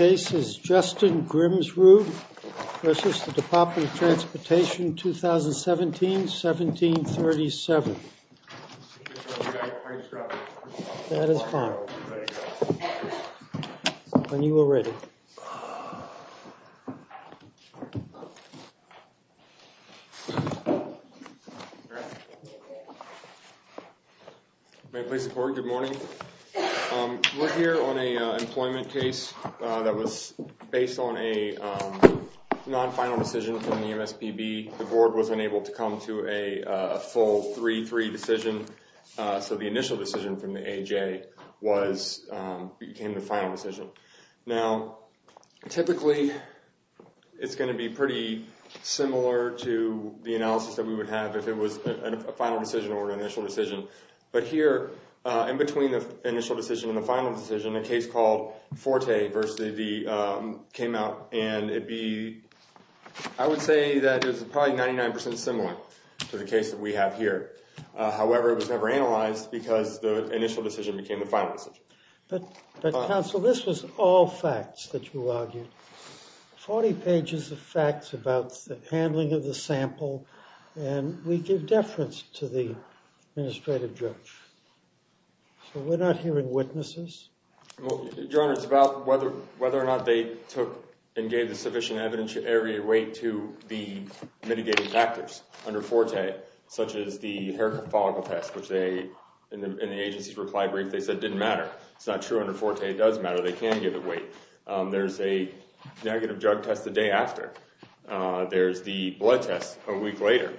2017-1737. We're here on an employment case that was based on a non-final decision from the MSPB. The board was unable to come to a full 3-3 decision, so the initial decision from the AJ became the final decision. Now, typically it's going to be pretty similar to the analysis that we would have if it was a final decision or an initial decision. But here, in between the initial decision and the final decision, a case called Forte v. D. came out, and I would say that it was probably 99% similar to the case that we have here. However, it was never analyzed because the initial decision became the final decision. But, counsel, this was all facts that you argued, 40 pages of facts about the handling of the sample, and we give deference to the administrative judge, so we're not hearing witnesses? Your Honor, it's about whether or not they took and gave the sufficient evidence to array weight to the mitigating factors under Forte, such as the hair follicle test, which they, in the agency's reply brief, they said didn't matter. It's not true under Forte. It does matter. They can give it weight. There's a negative drug test the day after. There's the blood test a week later.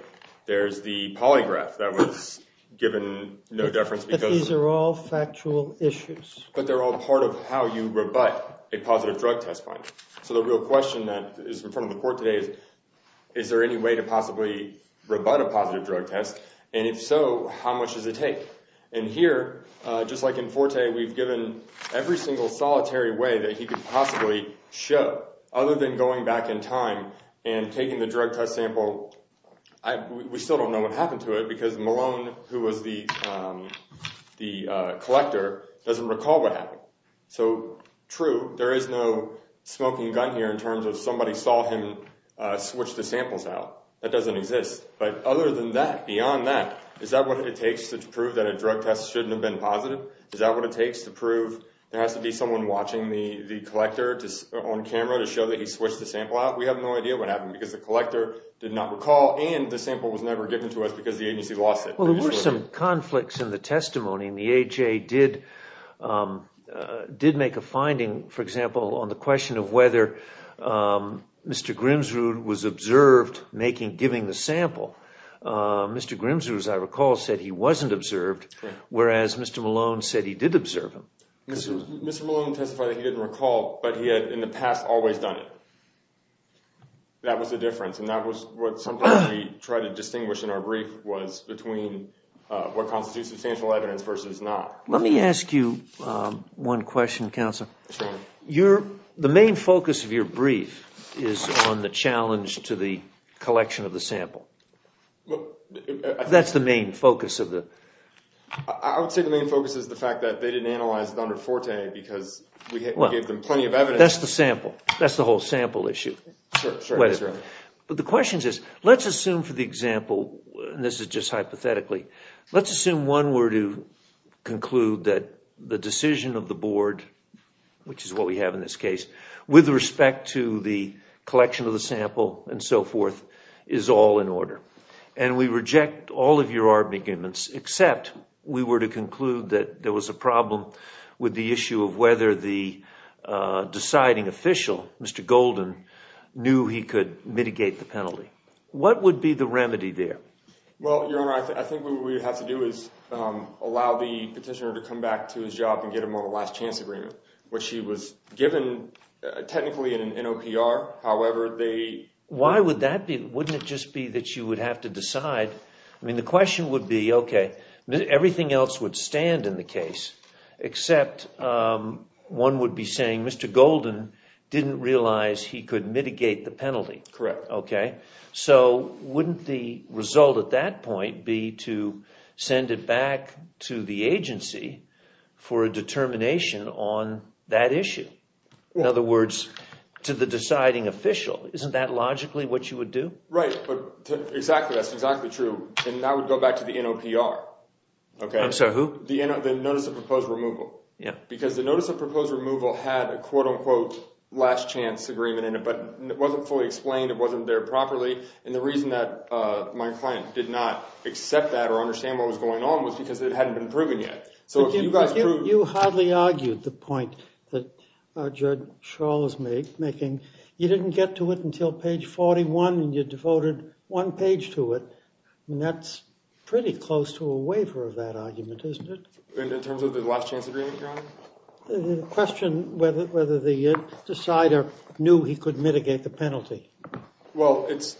There's the polygraph that was given no deference because— But they're all part of how you rebut a positive drug test finding. So the real question that is in front of the court today is, is there any way to possibly rebut a positive drug test, and if so, how much does it take? And here, just like in Forte, we've given every single solitary way that he could possibly show, other than going back in time and taking the drug test sample. We still don't know what happened to it because Malone, who was the collector, doesn't recall what happened. So true, there is no smoking gun here in terms of somebody saw him switch the samples out. That doesn't exist. But other than that, beyond that, is that what it takes to prove that a drug test shouldn't have been positive? Is that what it takes to prove there has to be someone watching the collector on camera to show that he switched the sample out? We have no idea what happened because the collector did not recall, and the sample was never given to us because the agency lost it. Well, there were some conflicts in the testimony, and the AHA did make a finding, for example, on the question of whether Mr. Grimsrud was observed giving the sample. Mr. Grimsrud, as I recall, said he wasn't observed, whereas Mr. Malone said he did observe him. Mr. Malone testified that he didn't recall, but he had in the past always done it. That was the difference, and that was what sometimes we try to distinguish in our brief was between what constitutes substantial evidence versus not. Let me ask you one question, Counselor. The main focus of your brief is on the challenge to the collection of the sample. That's the main focus. I would say the main focus is the fact that they didn't analyze it under Forte because we gave them plenty of evidence. That's the sample. That's the whole sample issue. The question is, let's assume for the example, and this is just hypothetically, let's assume one were to conclude that the decision of the board, which is what we have in this case, with respect to the collection of the sample and so forth is all in order. We reject all of your arguments except we were to conclude that there was a problem with the issue of whether the deciding official, Mr. Golden, knew he could mitigate the penalty. What would be the remedy there? Well, Your Honor, I think what we would have to do is allow the petitioner to come back to his job and get him on a last chance agreement, which he was given technically in an NOPR. Why would that be? Wouldn't it just be that you would have to decide? The question would be, okay, everything else would stand in the case except one would be saying Mr. Golden didn't realize he could mitigate the penalty. So wouldn't the result at that point be to send it back to the agency for a determination on that issue? In other words, to the deciding official. Isn't that logically what you would do? Right. Exactly. That's exactly true. And that would go back to the NOPR. I'm sorry, who? The Notice of Proposed Removal. Because the Notice of Proposed Removal had a quote-unquote last chance agreement in it, but it wasn't fully explained, it wasn't there properly, and the reason that my client did not accept that or understand what was going on was because it hadn't been proven yet. But you hardly argued the point that Judge Schall is making. You didn't get to it until page 41, and you devoted one page to it, and that's pretty close to a waiver of that argument, isn't it? In terms of the last chance agreement, Your Honor? The question, whether the decider knew he could mitigate the penalty. Well, it's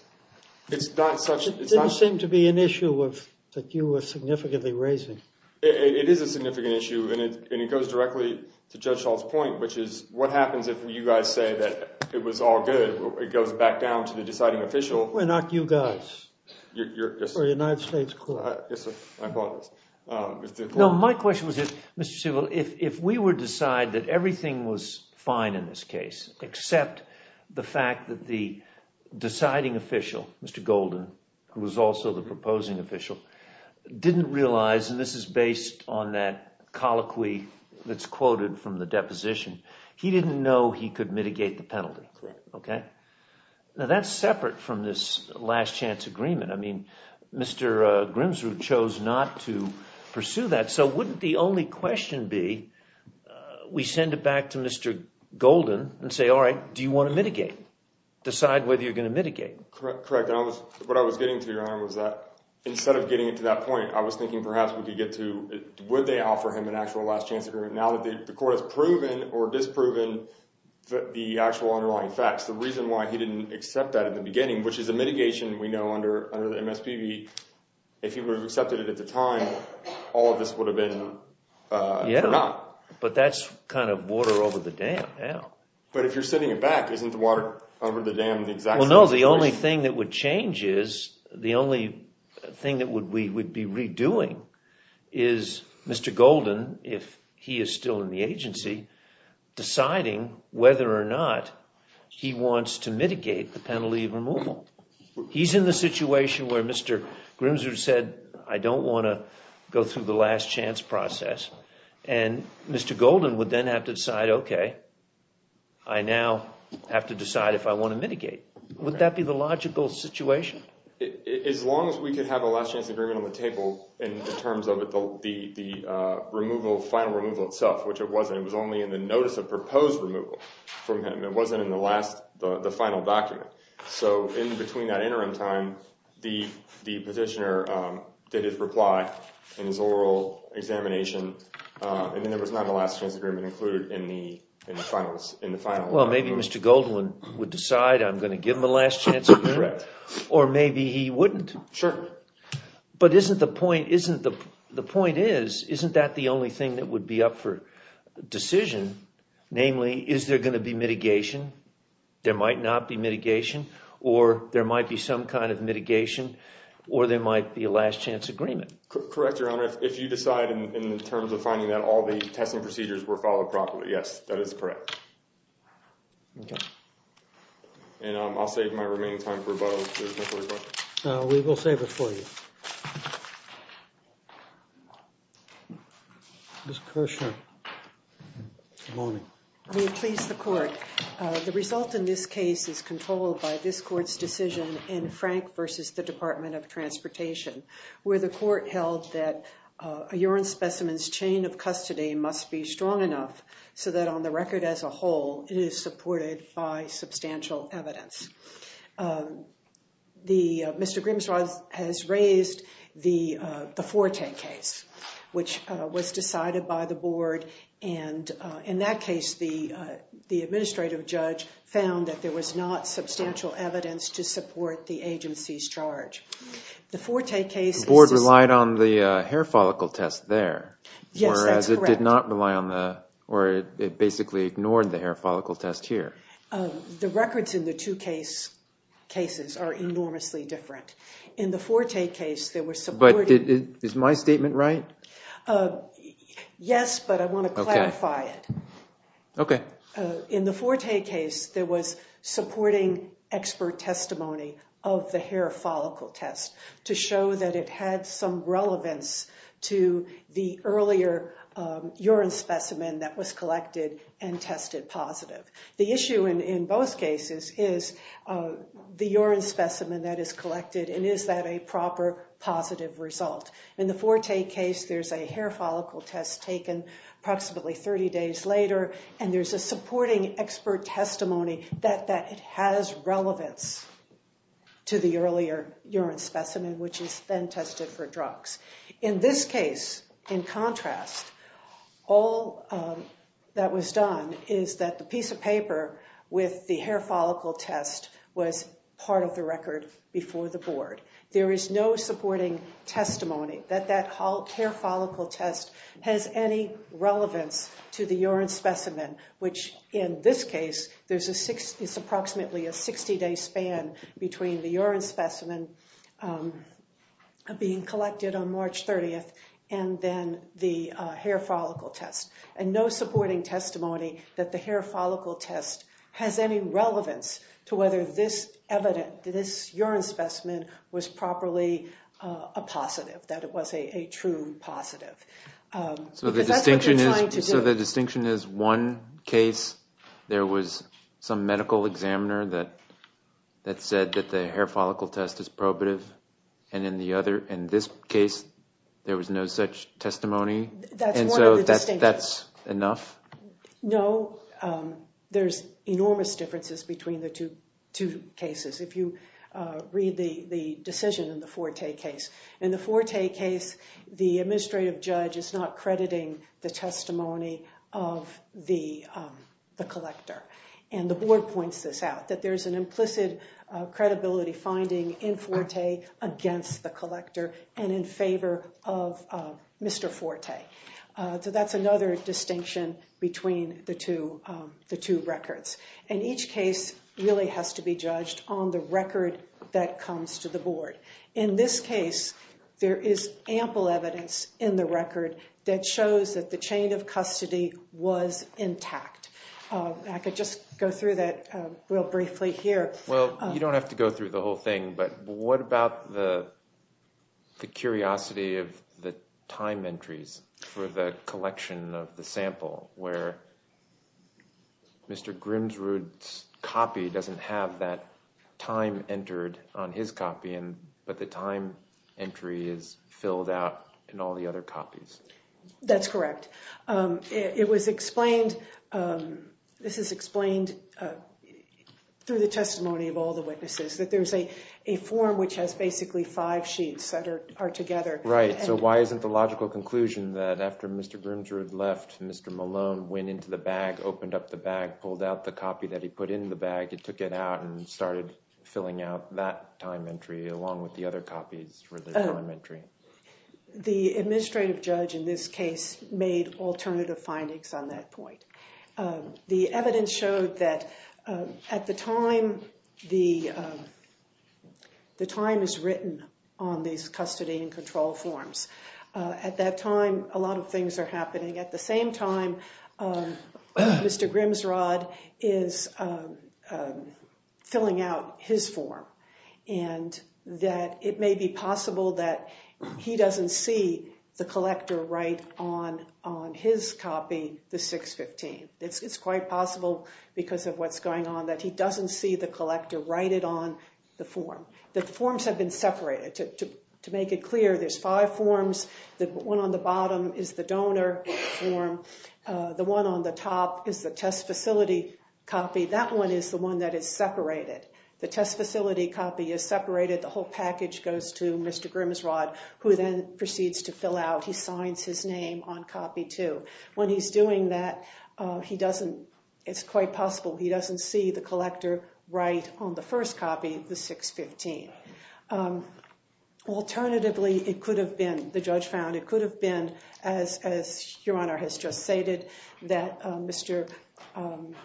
not such... It didn't seem to be an issue that you were significantly raising. It is a significant issue, and it goes directly to Judge Schall's point, which is, what happens if you guys say that it was all good, it goes back down to the deciding official. We're not you guys. Yes, sir. We're the United States Court. Yes, sir. My apologies. No, my question was this, Mr. Seville, if we were to decide that everything was fine in this case, except the fact that the deciding official, Mr. Golden, who was also the proposing official, didn't realize, and this is based on that colloquy that's quoted from the deposition, he didn't know he could mitigate the penalty. Correct. Okay? Now, that's separate from this last chance agreement. I mean, Mr. Grimsrud chose not to pursue that, so wouldn't the only question be, we send it back to Mr. Golden and say, all right, do you want to mitigate, decide whether you're going to mitigate? Correct. The fact that I was, what I was getting to, Your Honor, was that instead of getting it to that point, I was thinking perhaps we could get to, would they offer him an actual last chance agreement now that the court has proven or disproven the actual underlying facts? The reason why he didn't accept that in the beginning, which is a mitigation we know under the MSPB, if he would have accepted it at the time, all of this would have been forgotten. But that's kind of water over the dam now. But if you're sending it back, isn't the water over the dam the exact same situation? Well, no, the only thing that would change is, the only thing that we would be redoing is Mr. Golden, if he is still in the agency, deciding whether or not he wants to mitigate the penalty of removal. He's in the situation where Mr. Grimsrud said, I don't want to go through the last chance process and Mr. Golden would then have to decide, okay, I now have to decide if I want to mitigate. Would that be the logical situation? As long as we could have a last chance agreement on the table in terms of the removal, final removal itself, which it wasn't. It was only in the notice of proposed removal from him. It wasn't in the final document. So in between that interim time, the petitioner did his reply and his oral examination, and then there was not a last chance agreement included in the final. Well, maybe Mr. Golden would decide I'm going to give him a last chance agreement, or maybe he wouldn't. But the point is, isn't that the only thing that would be up for decision, namely, is there going to be mitigation? There might not be mitigation, or there might be some kind of mitigation, or there might be a last chance agreement. Correct, Your Honor. If you decide in terms of finding that all the testing procedures were followed properly, yes, that is correct. OK. And I'll save my remaining time for rebuttal if there's no further questions. We will save it for you. Ms. Kershaw. Good morning. Will you please, the court, the result in this case is controlled by this court's decision in Frank versus the Department of Transportation, where the court held that a urine specimen's of custody must be strong enough so that on the record as a whole, it is supported by substantial evidence. Mr. Grimsrod has raised the Forte case, which was decided by the board. And in that case, the administrative judge found that there was not substantial evidence to support the agency's charge. The Forte case is— The board relied on the hair follicle test there. Yes, that's correct. Whereas it did not rely on the—or it basically ignored the hair follicle test here. The records in the two cases are enormously different. In the Forte case, there was supporting— Is my statement right? Yes, but I want to clarify it. In the Forte case, there was supporting expert testimony of the hair follicle test to show that it had some relevance to the earlier urine specimen that was collected and tested positive. The issue in both cases is the urine specimen that is collected, and is that a proper positive result? In the Forte case, there's a hair follicle test taken approximately 30 days later, and there's a supporting expert testimony that it has relevance to the earlier urine specimen, which is then tested for drugs. In this case, in contrast, all that was done is that the piece of paper with the hair follicle test was part of the record before the board. There is no supporting testimony that that hair follicle test has any relevance to the urine specimen, which in this case, there's approximately a 60-day span between the urine being collected on March 30th and then the hair follicle test. And no supporting testimony that the hair follicle test has any relevance to whether this evidence, this urine specimen, was properly a positive, that it was a true positive. So the distinction is one case, there was some medical examiner that said that the hair was a positive, and in this case, there was no such testimony. And so that's enough? No. There's enormous differences between the two cases. If you read the decision in the Forte case, in the Forte case, the administrative judge is not crediting the testimony of the collector, and the board points this out, that there's an implicit credibility finding in Forte against the collector and in favor of Mr. Forte. So that's another distinction between the two records. And each case really has to be judged on the record that comes to the board. In this case, there is ample evidence in the record that shows that the chain of custody was intact. I could just go through that real briefly here. Well, you don't have to go through the whole thing, but what about the curiosity of the time entries for the collection of the sample, where Mr. Grimsrud's copy doesn't have that time entered on his copy, but the time entry is filled out in all the other copies? That's correct. It was explained, this is explained through the testimony of all the witnesses, that there's a form which has basically five sheets that are together. Right, so why isn't the logical conclusion that after Mr. Grimsrud left, Mr. Malone went into the bag, opened up the bag, pulled out the copy that he put in the bag, he took it out, and started filling out that time entry along with the other copies for the time entry? The administrative judge in this case made alternative findings on that point. The evidence showed that at the time, the time is written on these custody and control forms. At that time, a lot of things are happening. At the same time, Mr. Grimsrud is filling out his form, and that it may be possible that he doesn't see the collector write on his copy the 615. It's quite possible because of what's going on that he doesn't see the collector write it on the form. The forms have been separated. To make it clear, there's five forms. The one on the bottom is the donor form. The one on the top is the test facility copy. That one is the one that is separated. The test facility copy is separated. The whole package goes to Mr. Grimsrud, who then proceeds to fill out. He signs his name on copy two. When he's doing that, it's quite possible he doesn't see the collector write on the Alternatively, it could have been, the judge found, it could have been, as Your Honor has just stated, that Mr.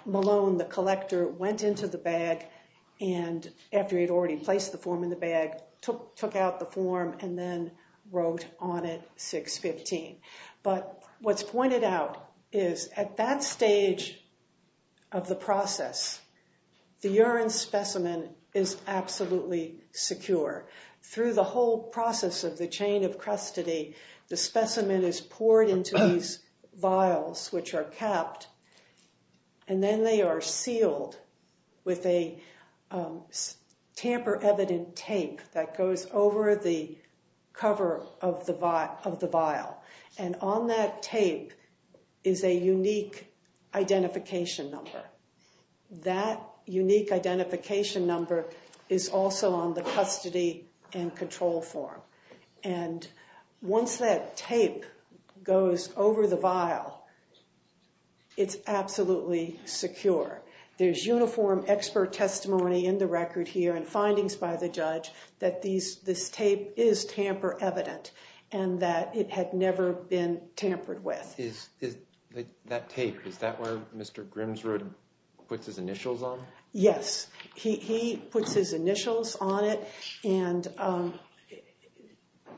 Malone, the collector, went into the bag and, after he had already placed the form in the bag, took out the form and then wrote on it 615. But what's pointed out is at that stage of the process, the urine specimen is absolutely secure. Through the whole process of the chain of custody, the specimen is poured into these vials, which are capped, and then they are sealed with a tamper-evident tape that goes over the cover of the vial. And on that tape is a unique identification number. That unique identification number is also on the custody and control form. And once that tape goes over the vial, it's absolutely secure. There's uniform expert testimony in the record here and findings by the judge that this tape is tamper-evident and that it had never been tampered with. That tape, is that where Mr. Grimsrud puts his initials on? Yes. He puts his initials on it and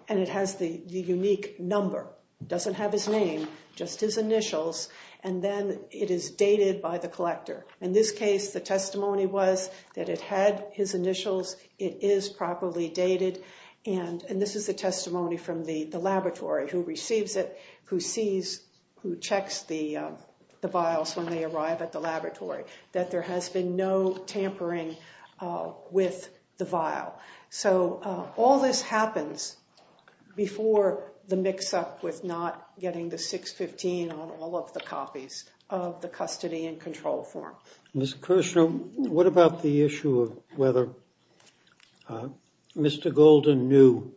it has the unique number. It doesn't have his name, just his initials, and then it is dated by the collector. In this case, the testimony was that it had his initials, it is properly dated, and this is the testimony from the laboratory who receives it, who checks the vials when they arrive at the laboratory, that there has been no tampering with the vial. So, all this happens before the mix-up with not getting the 615 on all of the copies of the custody and control form. Ms. Kirshner, what about the issue of whether Mr. Golden knew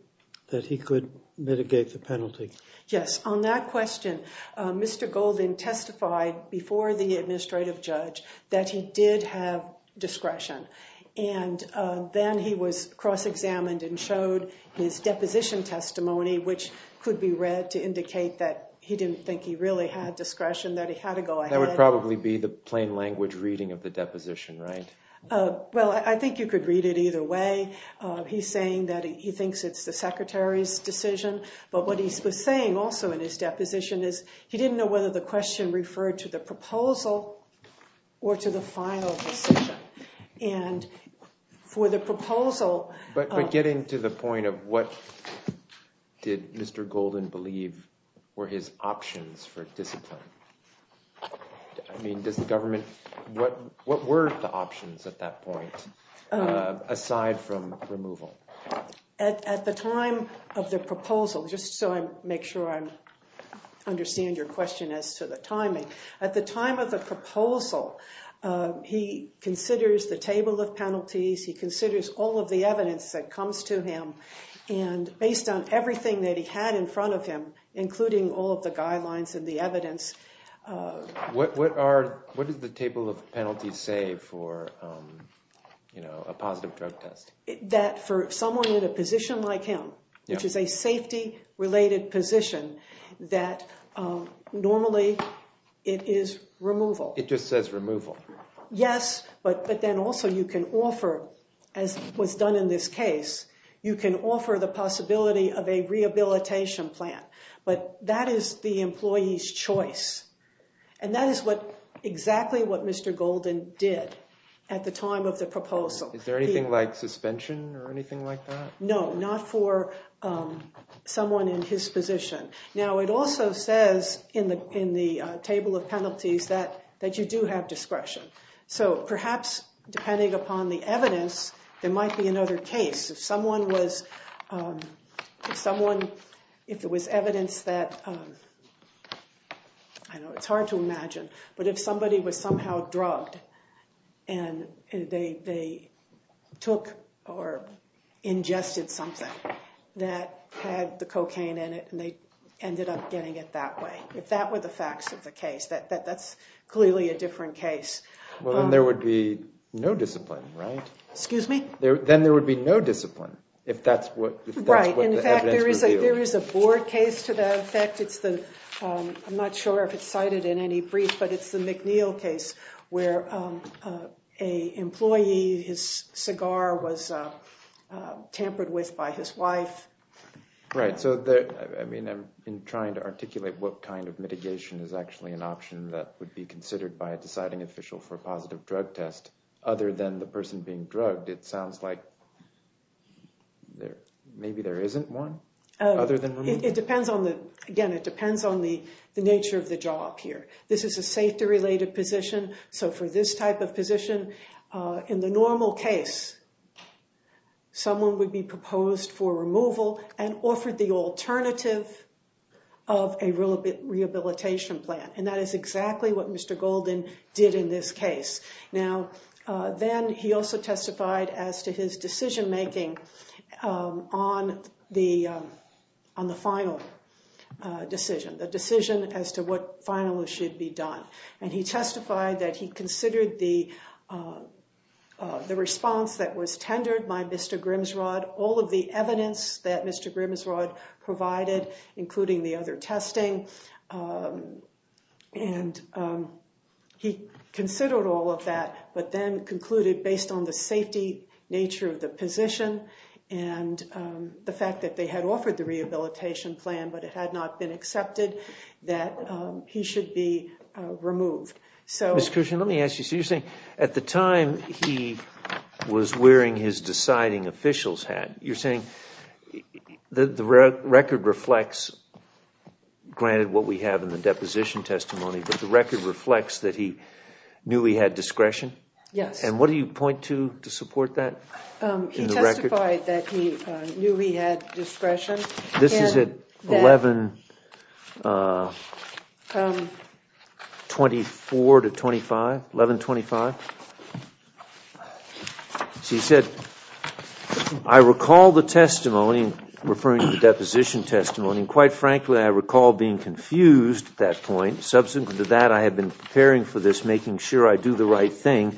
that he could mitigate the penalty? Yes. On that question, Mr. Golden testified before the administrative judge that he did have discretion, and then he was cross-examined and showed his deposition testimony, which could be read to indicate that he didn't think he really had discretion, that he had to go ahead. That would probably be the plain language reading of the deposition, right? Well, I think you could read it either way. He's saying that he thinks it's the Secretary's decision, but what he was saying also in his deposition is he didn't know whether the question referred to the proposal or to the final decision. And for the proposal... But getting to the point of what did Mr. Golden believe were his options for discipline, I mean, does the government... What were the options at that point, aside from removal? At the time of the proposal, just so I make sure I understand your question as to the timing, at the time of the proposal, he considers the table of penalties, he considers all of the evidence that comes to him, and based on everything that he had in front of him, including all of the guidelines and the evidence... What does the table of penalties say for a positive drug test? That for someone in a position like him, which is a safety-related position, that normally it is removal. It just says removal. Yes, but then also you can offer, as was done in this case, you can offer the possibility of a rehabilitation plan. But that is the employee's choice, and that is exactly what Mr. Golden did at the time of the proposal. Is there anything like suspension or anything like that? No, not for someone in his position. Now, it also says in the table of penalties that you do have discretion. So, perhaps, depending upon the evidence, there might be another case. If someone was... If someone... If there was evidence that... I know it's hard to imagine, but if somebody was somehow drugged and they took or ingested something that had the cocaine in it and they ended up getting it that way, if that were the facts of the case, that's clearly a different case. Well, then there would be no discipline, right? Excuse me? Then there would be no discipline, if that's what the evidence revealed. Right. In fact, there is a board case to that effect. It's the... I'm not sure if it's cited in any brief, but it's the McNeil case where an employee, his cigar was tampered with by his wife. Right. So, I mean, I'm trying to articulate what kind of mitigation is actually an option that would be considered by a deciding official for a positive drug test. Other than the person being drugged, it sounds like maybe there isn't one? Other than... It depends on the... Again, it depends on the nature of the job here. This is a safety-related position. So, for this type of position, in the normal case, someone would be proposed for removal and offered the alternative of a rehabilitation plan. And that is exactly what Mr. Golden did in this case. Now, then he also testified as to his decision-making on the final decision, the decision as to what finally should be done. And he testified that he considered the response that was tendered by Mr. Grimsrod, all of the evidence that Mr. Grimsrod provided, including the other testing. And he considered all of that, but then concluded, based on the safety nature of the position and the fact that they had offered the rehabilitation plan, but it had not been accepted, that he should be removed. Ms. Cushing, let me ask you, so you're saying at the time he was wearing his deciding official's hat, you're saying the record reflects, granted what we have in the deposition testimony, but the record reflects that he knew he had discretion? Yes. And what do you point to to support that? He testified that he knew he had discretion. This is at 1125. He said, I recall the testimony, referring to the deposition testimony, and quite frankly I recall being confused at that point. Subsequent to that, I had been preparing for this, making sure I do the right thing.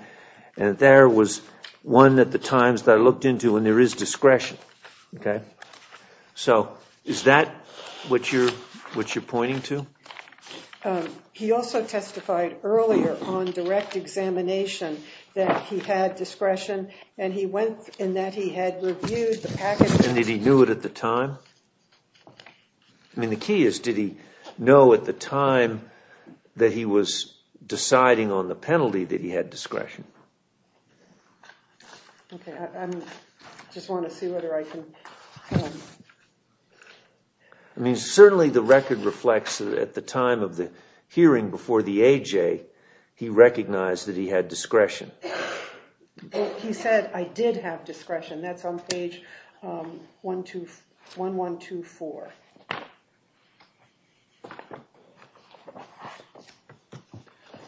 And there was one at the times that I looked into, and there is discretion. So is that what you're pointing to? He also testified earlier on direct examination that he had discretion, and he went in that he had reviewed the package. And did he know it at the time? I mean, the key is, did he know at the time that he was deciding on the penalty that he had discretion? Okay. I just want to see whether I can. I mean, certainly the record reflects that at the time of the hearing before the AJ, he recognized that he had discretion. He said, I did have discretion. That's on page 1124.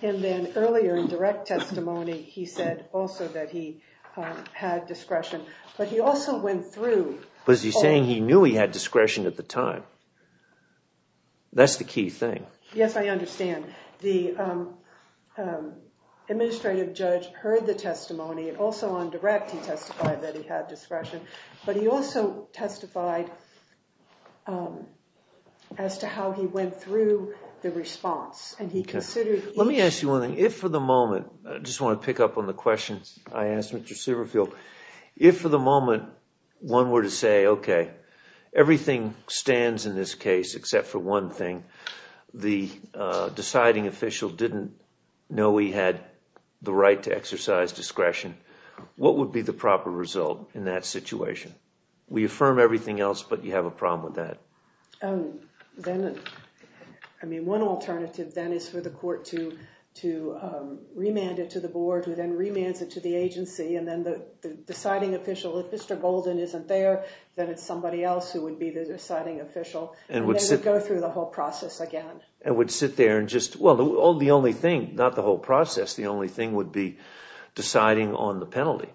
And then earlier in direct testimony, he said also that he had discretion. But he also went through. Was he saying he knew he had discretion at the time? That's the key thing. Yes, I understand. The administrative judge heard the testimony. Also on direct, he testified that he had discretion. But he also testified as to how he went through the response. Let me ask you one thing. If for the moment, I just want to pick up on the question I asked Mr. Silverfield, if for the moment one were to say, okay, everything stands in this case except for one thing, the deciding official didn't know he had the right to exercise discretion, what would be the proper result in that situation? We affirm everything else, but you have a problem with that. Then, I mean, one alternative then is for the court to remand it to the board, who then remands it to the agency. And then the deciding official, if Mr. Golden isn't there, then it's somebody else who would be the deciding official. And they would go through the whole process again. And would sit there and just, well, the only thing, not the whole process, the only thing would be deciding on the penalty.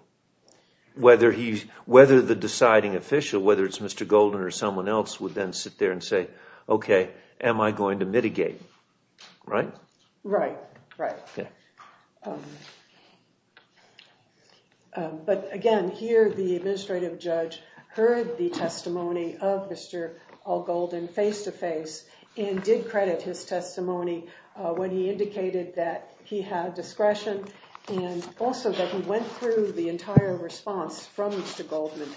Whether the deciding official, whether it's Mr. Golden or someone else, would then sit there and say, okay, am I going to mitigate, right? Right, right. But, again, here the administrative judge heard the testimony of Mr. All-Golden face-to-face and did credit his testimony when he indicated that he had discretion and also that he went through the entire response from Mr. Goldman,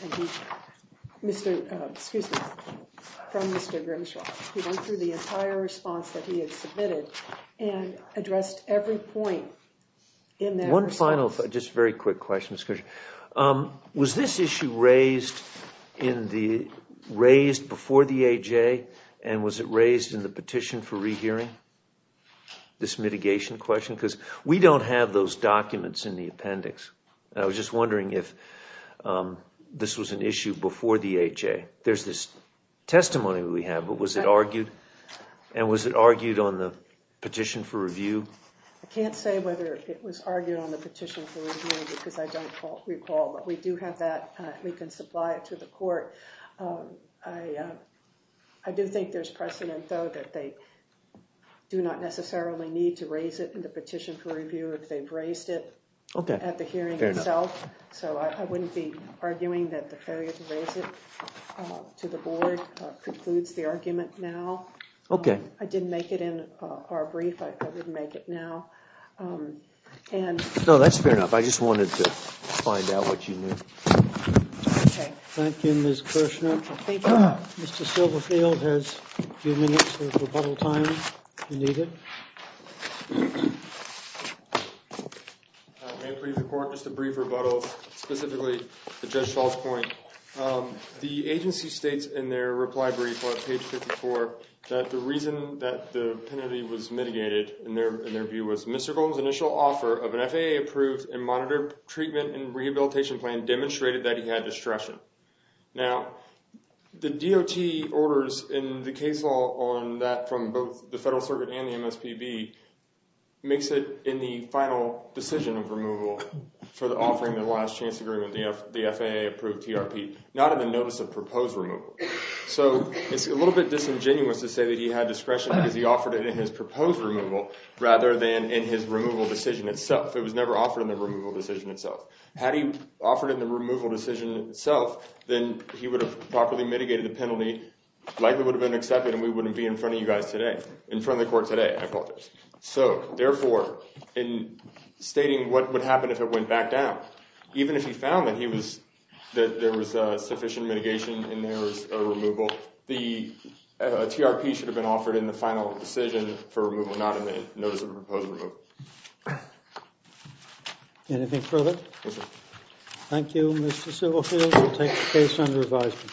excuse me, from Mr. Grimshaw. He went through the entire response that he had submitted and addressed every point in that response. One final, just very quick question. Was this issue raised before the AHA and was it raised in the petition for rehearing, this mitigation question? Because we don't have those documents in the appendix. I was just wondering if this was an issue before the AHA. There's this testimony we have, but was it argued? And was it argued on the petition for review? I can't say whether it was argued on the petition for review because I don't recall. But we do have that. We can supply it to the court. I do think there's precedent, though, that they do not necessarily need to raise it in the petition for review if they've raised it at the hearing itself. So I wouldn't be arguing that the failure to raise it to the board concludes the argument now. I didn't make it in our brief. I wouldn't make it now. No, that's fair enough. I just wanted to find out what you knew. OK. Thank you, Ms. Kirshner. Thank you. Mr. Silverfield has a few minutes of rebuttal time if you need it. May I please report just a brief rebuttal, specifically to Judge Schall's point? The agency states in their reply brief on page 54 that the reason that the penalty was mitigated, in their view, was Mr. Golden's initial offer of an FAA-approved and monitored treatment and rehabilitation plan demonstrated that he had distraction. Now, the DOT orders in the case law on that from both the Federal Circuit and the MSPB makes it in the final decision of removal for the offering of the last chance agreement, the FAA-approved TRP, not in the notice of proposed removal. So it's a little bit disingenuous to say that he had discretion because he offered it in his proposed removal rather than in his removal decision itself. It was never offered in the removal decision itself. Had he offered it in the removal decision itself, then he would have properly mitigated the penalty, likely would have been accepted, and we wouldn't be in front of you guys today, in front of the court today, I apologize. So therefore, in stating what would happen if it went back down, even if he found that there was sufficient mitigation and there was a removal, the TRP should have been offered in the final decision for removal, not in the notice of proposed removal. Anything further? Thank you, Mr. Silverfield. We'll take the case under advisement.